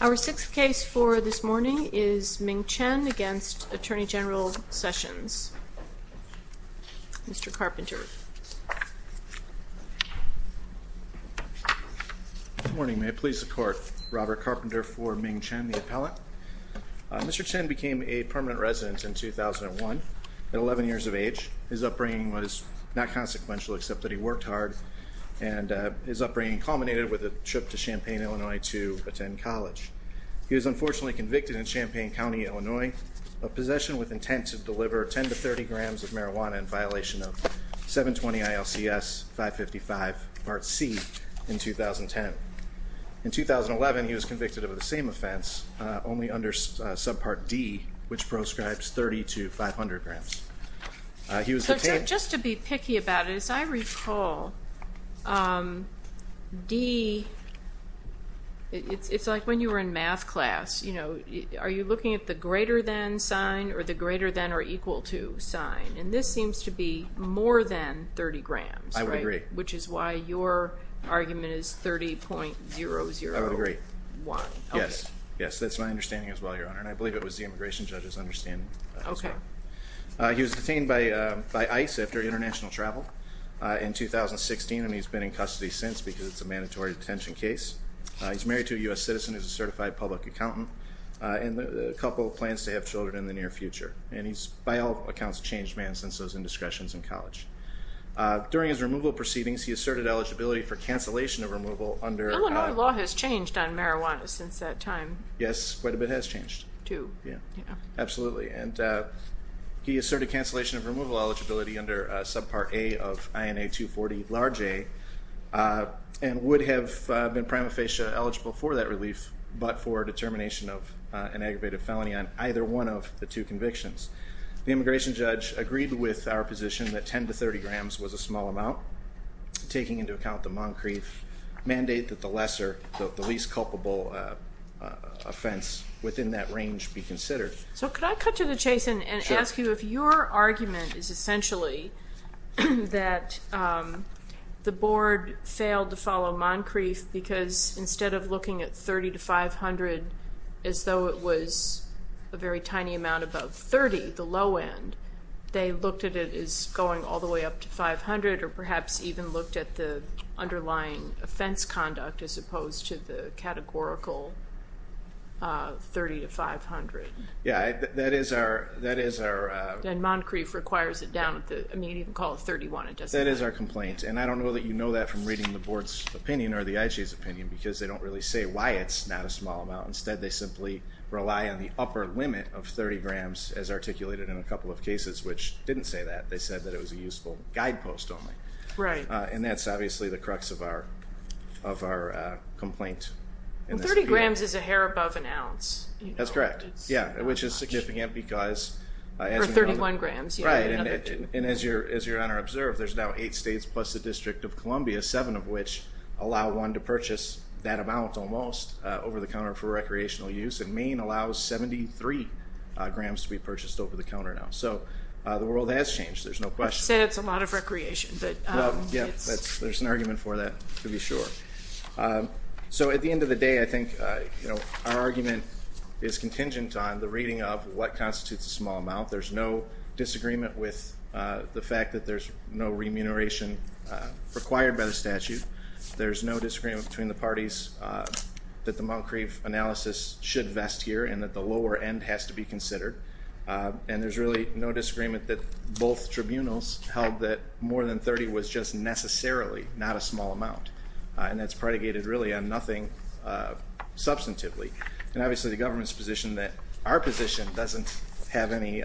Our sixth case for this morning is Ming Chen v. Attorney General Sessions Mr. Carpenter Good morning. May it please the court. Robert Carpenter for Ming Chen, the appellant. Mr. Chen became a permanent resident in 2001 at 11 years of age. His upbringing was not consequential except that he worked hard and his upbringing culminated with a trip to Champaign, Illinois to attend college. He was unfortunately convicted in Champaign County, Illinois of possession with intent to deliver 10 to 30 grams of marijuana in violation of 720 ILCS 555 part C in 2010. In 2011 he was convicted of the same offense only under subpart D which proscribes 30 to 500 grams. So just to be picky about it, as I recall, D, it's like when you were in math class, you know, are you looking at the greater than sign or the greater than or equal to sign? And this seems to be more than 30 grams, right? I would agree. Which is why your argument is 30.001. I would agree. Yes, yes, that's my understanding as well, Your Honor, and I believe it was the immigration judge's understanding as well. Okay. He was detained by ICE after international travel in 2016 and he's been in custody since because it's a mandatory detention case. He's married to a U.S. citizen who's a certified public accountant and a couple of plans to have children in the near future. And he's by all accounts a changed man since those indiscretions in college. During his removal proceedings he asserted eligibility for cancellation of removal under... Illinois law has changed on marijuana since that time. Yes, quite a bit has changed. Absolutely. And he asserted cancellation of removal eligibility under subpart A of INA 240, large A, and would have been prima facie eligible for that relief but for determination of an aggravated felony on either one of the two convictions. The immigration judge agreed with our position that 10 to 30 grams was a small amount, taking into account the Moncrief mandate that the lesser, the least culpable offense within that range be considered. So could I cut to the chase and ask you if your argument is essentially that the board failed to follow Moncrief because instead of looking at 30 to 500 as though it was a very tiny amount above 30, the low end, they looked at it as going all the way up to 500 or perhaps even looked at the underlying offense conduct as opposed to the categorical 30 to 500. Yeah, that is our... And Moncrief requires it down at the, I mean, you can call it 31, it doesn't matter. That is our complaint. And I don't know that you know that from reading the board's opinion or the IG's opinion because they don't really say why it's not a small amount. Instead, they simply rely on the upper limit of 30 grams as articulated in a couple of cases which didn't say that. They said that it was a useful guidepost only. Right. And that's obviously the crux of our complaint. Well, 30 grams is a hair above an ounce. That's correct. Yeah, which is significant because... Or 31 grams. Right. And as your Honor observed, there's now eight states plus the District of Columbia, seven of which allow one to purchase that amount almost over the counter for recreational use. And Maine allows 73 grams to be purchased over the counter now. So the world has changed. There's no question. You said it's a lot of recreation. Yeah, there's an argument for that to be sure. So at the end of the day, I think our argument is contingent on the reading of what constitutes a small amount. There's no disagreement with the fact that there's no remuneration required by the statute. There's no disagreement between the parties that the Moncrieff analysis should vest here and that the lower end has to be considered. And there's really no disagreement that both tribunals held that more than 30 was just necessarily not a small amount. And that's predicated really on nothing substantively. And obviously the government's position that our position doesn't have any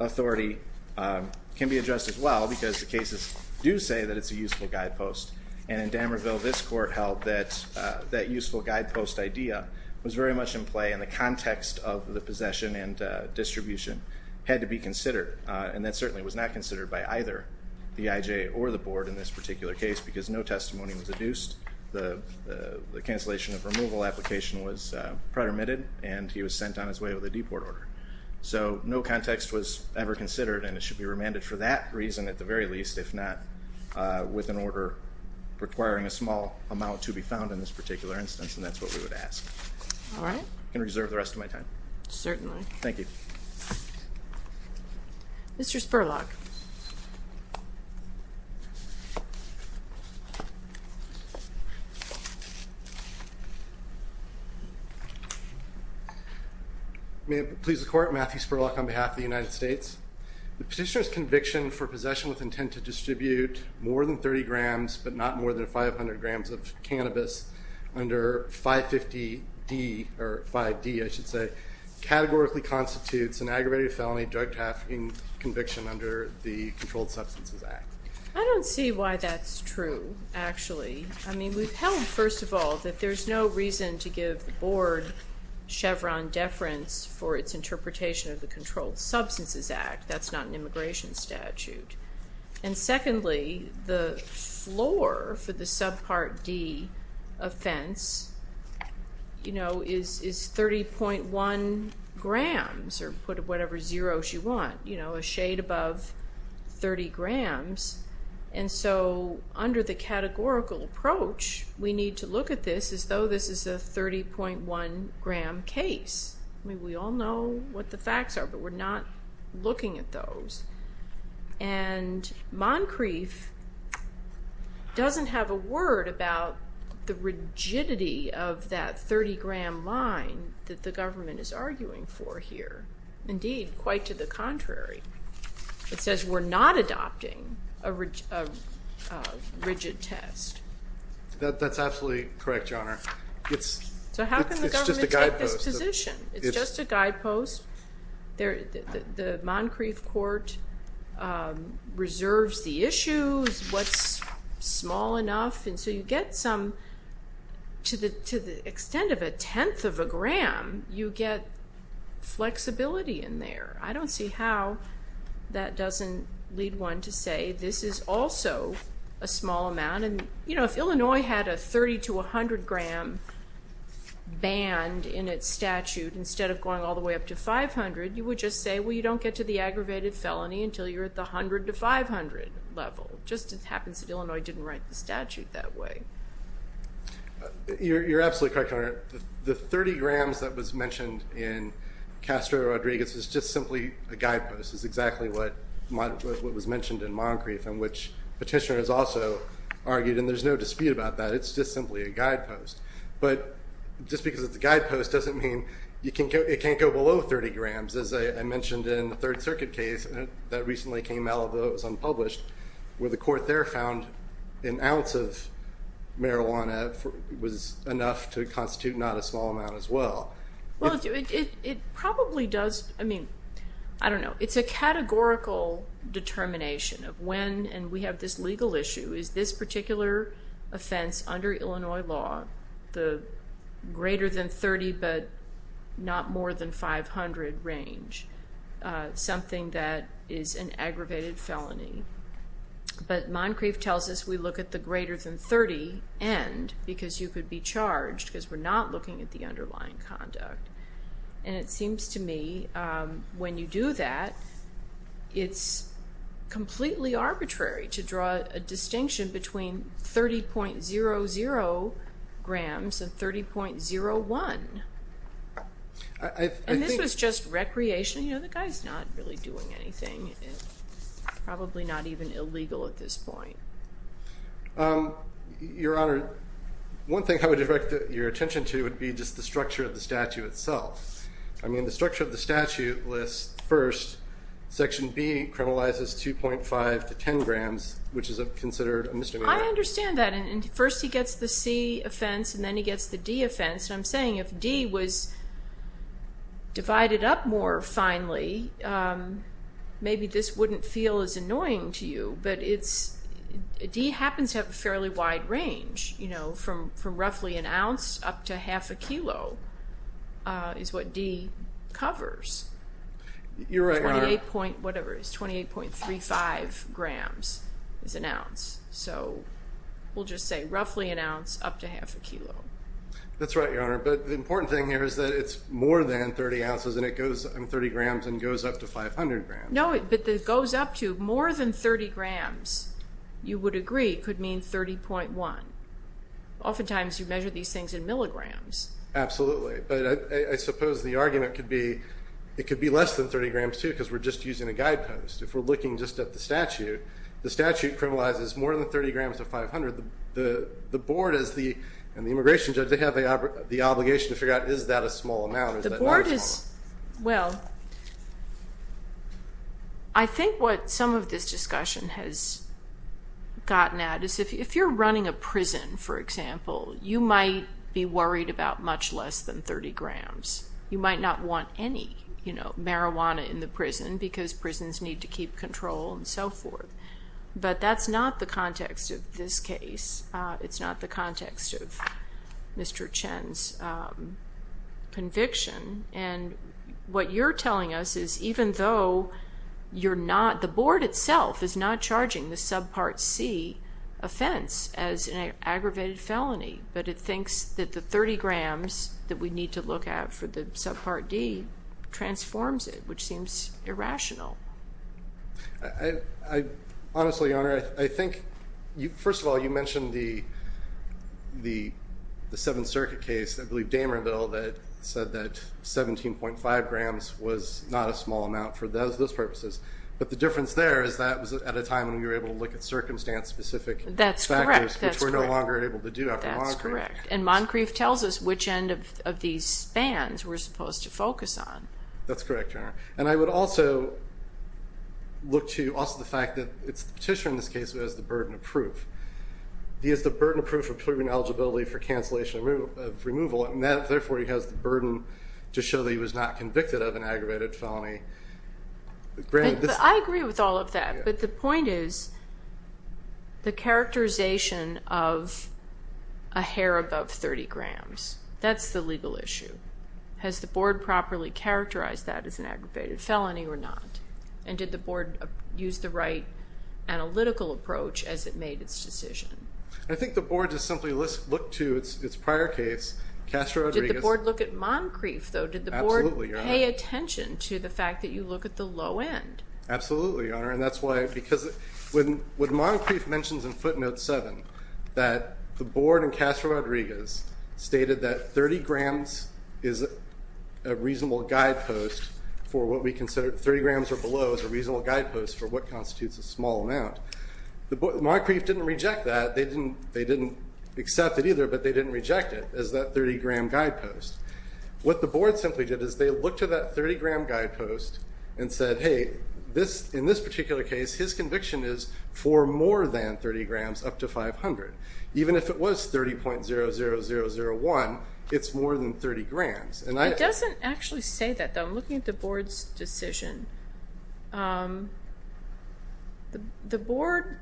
authority can be addressed as well because the cases do say that it's a useful guidepost. And in Damerville, this court held that that useful guidepost idea was very much in play and the context of the possession and distribution had to be considered. And that certainly was not considered by either the IJ or the Board in this particular case because no testimony was adduced. The cancellation of removal application was pretermitted and he was sent on his way with a deport order. So no context was ever considered and it should be remanded for that reason at the very least, if not with an order requiring a small amount to be found in this particular instance. And that's what we would ask. All right. I can reserve the rest of my time. Certainly. Thank you. Mr. Spurlock. May it please the Court. Matthew Spurlock on behalf of the United States. The petitioner's conviction for possession with intent to distribute more than 30 grams but not more than 500 grams of cannabis under 550D or 5D, I should say, categorically constitutes an aggravated felony drug trafficking conviction under the Controlled Substances Act. I don't see why that's true, actually. I mean, we've held, first of all, that there's no reason to give the Board Chevron deference for its interpretation of the Controlled Substances Act. That's not an immigration statute. And secondly, the floor for the subpart D offense, you know, is 30.1 grams or put whatever zeros you want, you know, a shade above 30 grams. And so under the categorical approach, we need to look at this as though this is a 30.1-gram case. I mean, we all know what the facts are, but we're not looking at those. And Moncrief doesn't have a word about the rigidity of that 30-gram line that the government is arguing for here. Indeed, quite to the contrary. It says we're not adopting a rigid test. That's absolutely correct, Your Honor. It's just a guidepost. So how can the government take this position? It's just a guidepost. The Moncrief court reserves the issues, what's small enough. And so you get some, to the extent of a tenth of a gram, you get flexibility in there. I don't see how that doesn't lead one to say this is also a small amount. And, you know, if Illinois had a 30 to 100-gram band in its statute instead of going all the way up to 500, you would just say, well, you don't get to the aggravated felony until you're at the 100 to 500 level. It just happens that Illinois didn't write the statute that way. You're absolutely correct, Your Honor. The 30 grams that was mentioned in Castro-Rodriguez is just simply a guidepost. It's exactly what was mentioned in Moncrief and which petitioner has also argued, and there's no dispute about that, it's just simply a guidepost. But just because it's a guidepost doesn't mean it can't go below 30 grams, as I mentioned in the Third Circuit case that recently came out, although it was unpublished, where the court there found an ounce of marijuana was enough to constitute not a small amount as well. Well, it probably does. I mean, I don't know. It's a categorical determination of when, and we have this legal issue, is this particular offense under Illinois law the greater than 30 but not more than 500 range, something that is an aggravated felony. But Moncrief tells us we look at the greater than 30 end because you could be charged because we're not looking at the underlying conduct. And it seems to me when you do that, it's completely arbitrary to draw a distinction between 30.00 grams and 30.01. And this was just recreation. You know, the guy's not really doing anything. It's probably not even illegal at this point. Your Honor, one thing I would direct your attention to would be just the structure of the statute itself. I mean, the structure of the statute lists first Section B criminalizes 2.5 to 10 grams, which is considered a misdemeanor. I understand that. And first he gets the C offense, and then he gets the D offense. And I'm saying if D was divided up more finely, maybe this wouldn't feel as annoying to you. But D happens to have a fairly wide range from roughly an ounce up to half a kilo is what D covers. You're right, Your Honor. Whatever it is, 28.35 grams is an ounce. So we'll just say roughly an ounce up to half a kilo. That's right, Your Honor. But the important thing here is that it's more than 30 ounces, and it goes in 30 grams and goes up to 500 grams. No, but it goes up to more than 30 grams, you would agree, could mean 30.1. Oftentimes you measure these things in milligrams. Absolutely. But I suppose the argument could be it could be less than 30 grams, too, because we're just using a guidepost. If we're looking just at the statute, the statute criminalizes more than 30 grams to 500. The board and the immigration judge, they have the obligation to figure out is that a small amount or is that not a small amount. Well, I think what some of this discussion has gotten at is if you're running a prison, for example, you might be worried about much less than 30 grams. You might not want any marijuana in the prison because prisons need to keep control and so forth. But that's not the context of this case. It's not the context of Mr. Chen's conviction. And what you're telling us is even though you're not, the board itself is not charging the subpart C offense as an aggravated felony, but it thinks that the 30 grams that we need to look at for the subpart D transforms it, which seems irrational. Honestly, Your Honor, I think, first of all, you mentioned the Seventh Circuit case, I believe Damerville, that said that 17.5 grams was not a small amount for those purposes. But the difference there is that was at a time when we were able to look at circumstance-specific factors, which we're no longer able to do after Moncrief. That's correct. And Moncrief tells us which end of these spans we're supposed to focus on. That's correct, Your Honor. And I would also look to also the fact that it's the petitioner in this case who has the burden of proof. He has the burden of proof of proven eligibility for cancellation of removal, and therefore he has the burden to show that he was not convicted of an aggravated felony. But I agree with all of that. But the point is the characterization of a hair above 30 grams. That's the legal issue. Has the Board properly characterized that as an aggravated felony or not? And did the Board use the right analytical approach as it made its decision? I think the Board just simply looked to its prior case, Castro-Rodriguez. Did the Board look at Moncrief, though? Absolutely, Your Honor. Did the Board pay attention to the fact that you look at the low end? Absolutely, Your Honor. When Moncrief mentions in footnote 7 that the Board and Castro-Rodriguez stated that 30 grams is a reasonable guidepost for what we consider 30 grams or below is a reasonable guidepost for what constitutes a small amount, Moncrief didn't reject that. They didn't accept it either, but they didn't reject it as that 30-gram guidepost. What the Board simply did is they looked at that 30-gram guidepost and said, hey, in this particular case, his conviction is for more than 30 grams up to 500. Even if it was 30.00001, it's more than 30 grams. It doesn't actually say that, though. I'm looking at the Board's decision. The Board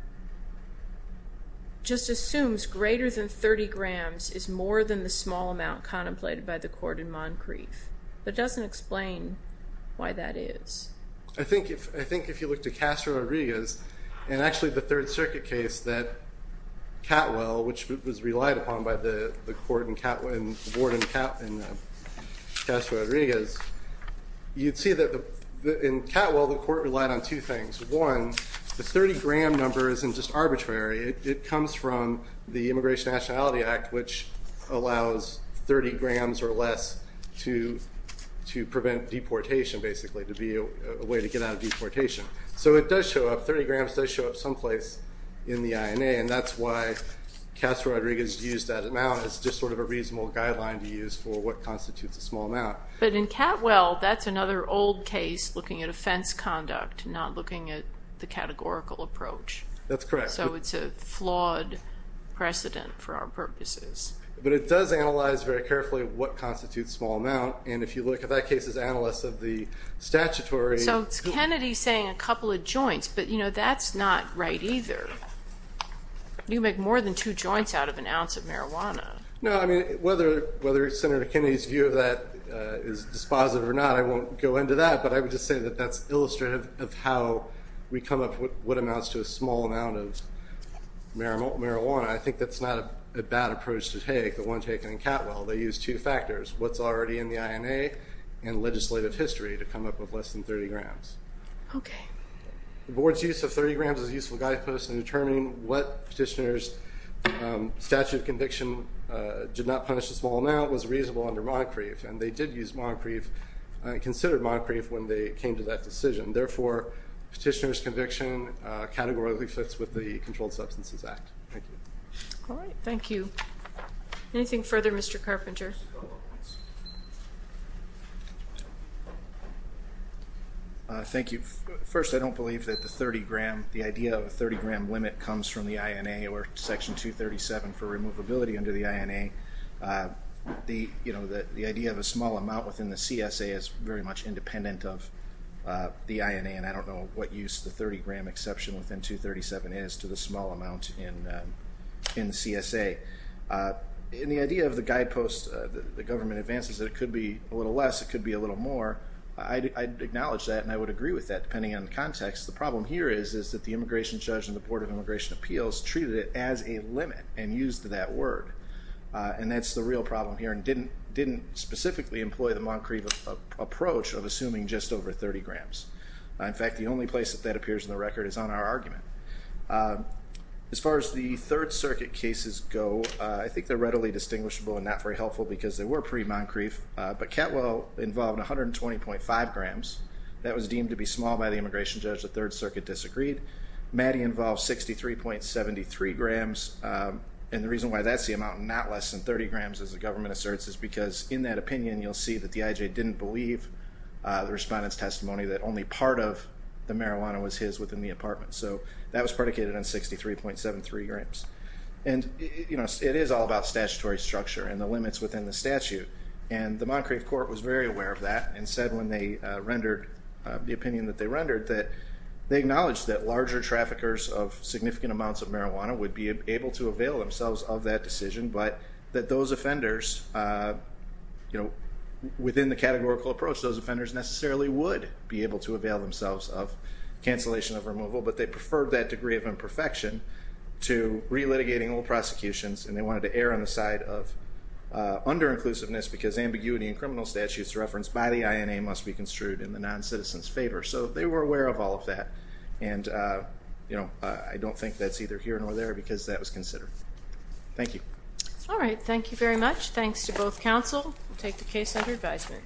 just assumes greater than 30 grams is more than the small amount contemplated by the Court in Moncrief. It doesn't explain why that is. I think if you look to Castro-Rodriguez and actually the Third Circuit case that Catwell, which was relied upon by the Board and Castro-Rodriguez, you'd see that in Catwell the Court relied on two things. One, the 30-gram number isn't just arbitrary. It comes from the Immigration Nationality Act, which allows 30 grams or less to prevent deportation, basically, to be a way to get out of deportation. So it does show up, 30 grams does show up someplace in the INA, and that's why Castro-Rodriguez used that amount. It's just sort of a reasonable guideline to use for what constitutes a small amount. But in Catwell, that's another old case looking at offense conduct, not looking at the categorical approach. That's correct. So it's a flawed precedent for our purposes. But it does analyze very carefully what constitutes small amount, and if you look at that case as analysts of the statutory. So Kennedy's saying a couple of joints, but that's not right either. You make more than two joints out of an ounce of marijuana. No, I mean, whether Senator Kennedy's view of that is dispositive or not, I won't go into that. But I would just say that that's illustrative of how we come up with what amounts to a small amount of marijuana. I think that's not a bad approach to take, the one taken in Catwell. They used two factors, what's already in the INA and legislative history, to come up with less than 30 grams. Okay. The board's use of 30 grams as a useful guidepost in determining what petitioner's statute of conviction did not punish the small amount was reasonable under Montecrief, and they did use Montecrief, considered Montecrief when they came to that decision. Therefore, petitioner's conviction categorically fits with the Controlled Substances Act. Thank you. All right. Thank you. Anything further, Mr. Carpenter? Thank you. First, I don't believe that the 30-gram, the idea of a 30-gram limit comes from the INA or Section 237 for removability under the INA. The idea of a small amount within the CSA is very much independent of the INA, and I don't know what use the 30-gram exception within 237 is to the small amount in the CSA. And the idea of the guidepost, the government advances that it could be a little less, it could be a little more, I acknowledge that and I would agree with that depending on the context. The problem here is that the immigration judge and the Board of Immigration Appeals treated it as a limit and used that word, and that's the real problem here and didn't specifically employ the Montcrief approach of assuming just over 30 grams. In fact, the only place that that appears in the record is on our argument. As far as the Third Circuit cases go, I think they're readily distinguishable and not very helpful because they were pre-Montcrief, but Ketwell involved 120.5 grams. That was deemed to be small by the immigration judge. The Third Circuit disagreed. Maddy involved 63.73 grams, and the reason why that's the amount not less than 30 grams, as the government asserts, is because in that opinion you'll see that the IJ didn't believe the respondent's testimony that only part of the marijuana was his within the apartment. So that was predicated on 63.73 grams. It is all about statutory structure and the limits within the statute, and the Montcrief court was very aware of that and said when they rendered the opinion that they rendered that they acknowledged that larger traffickers of significant amounts of marijuana would be able to avail themselves of that decision, but that those offenders, within the categorical approach, those offenders necessarily would be able to avail themselves of cancellation of removal, but they preferred that degree of imperfection to relitigating all prosecutions, and they wanted to err on the side of under-inclusiveness because ambiguity in criminal statutes referenced by the INA must be construed in the noncitizen's favor. So they were aware of all of that, and I don't think that's either here nor there because that was considered. Thank you. All right. Thank you very much. Thanks to both counsel. We'll take the case under advisement.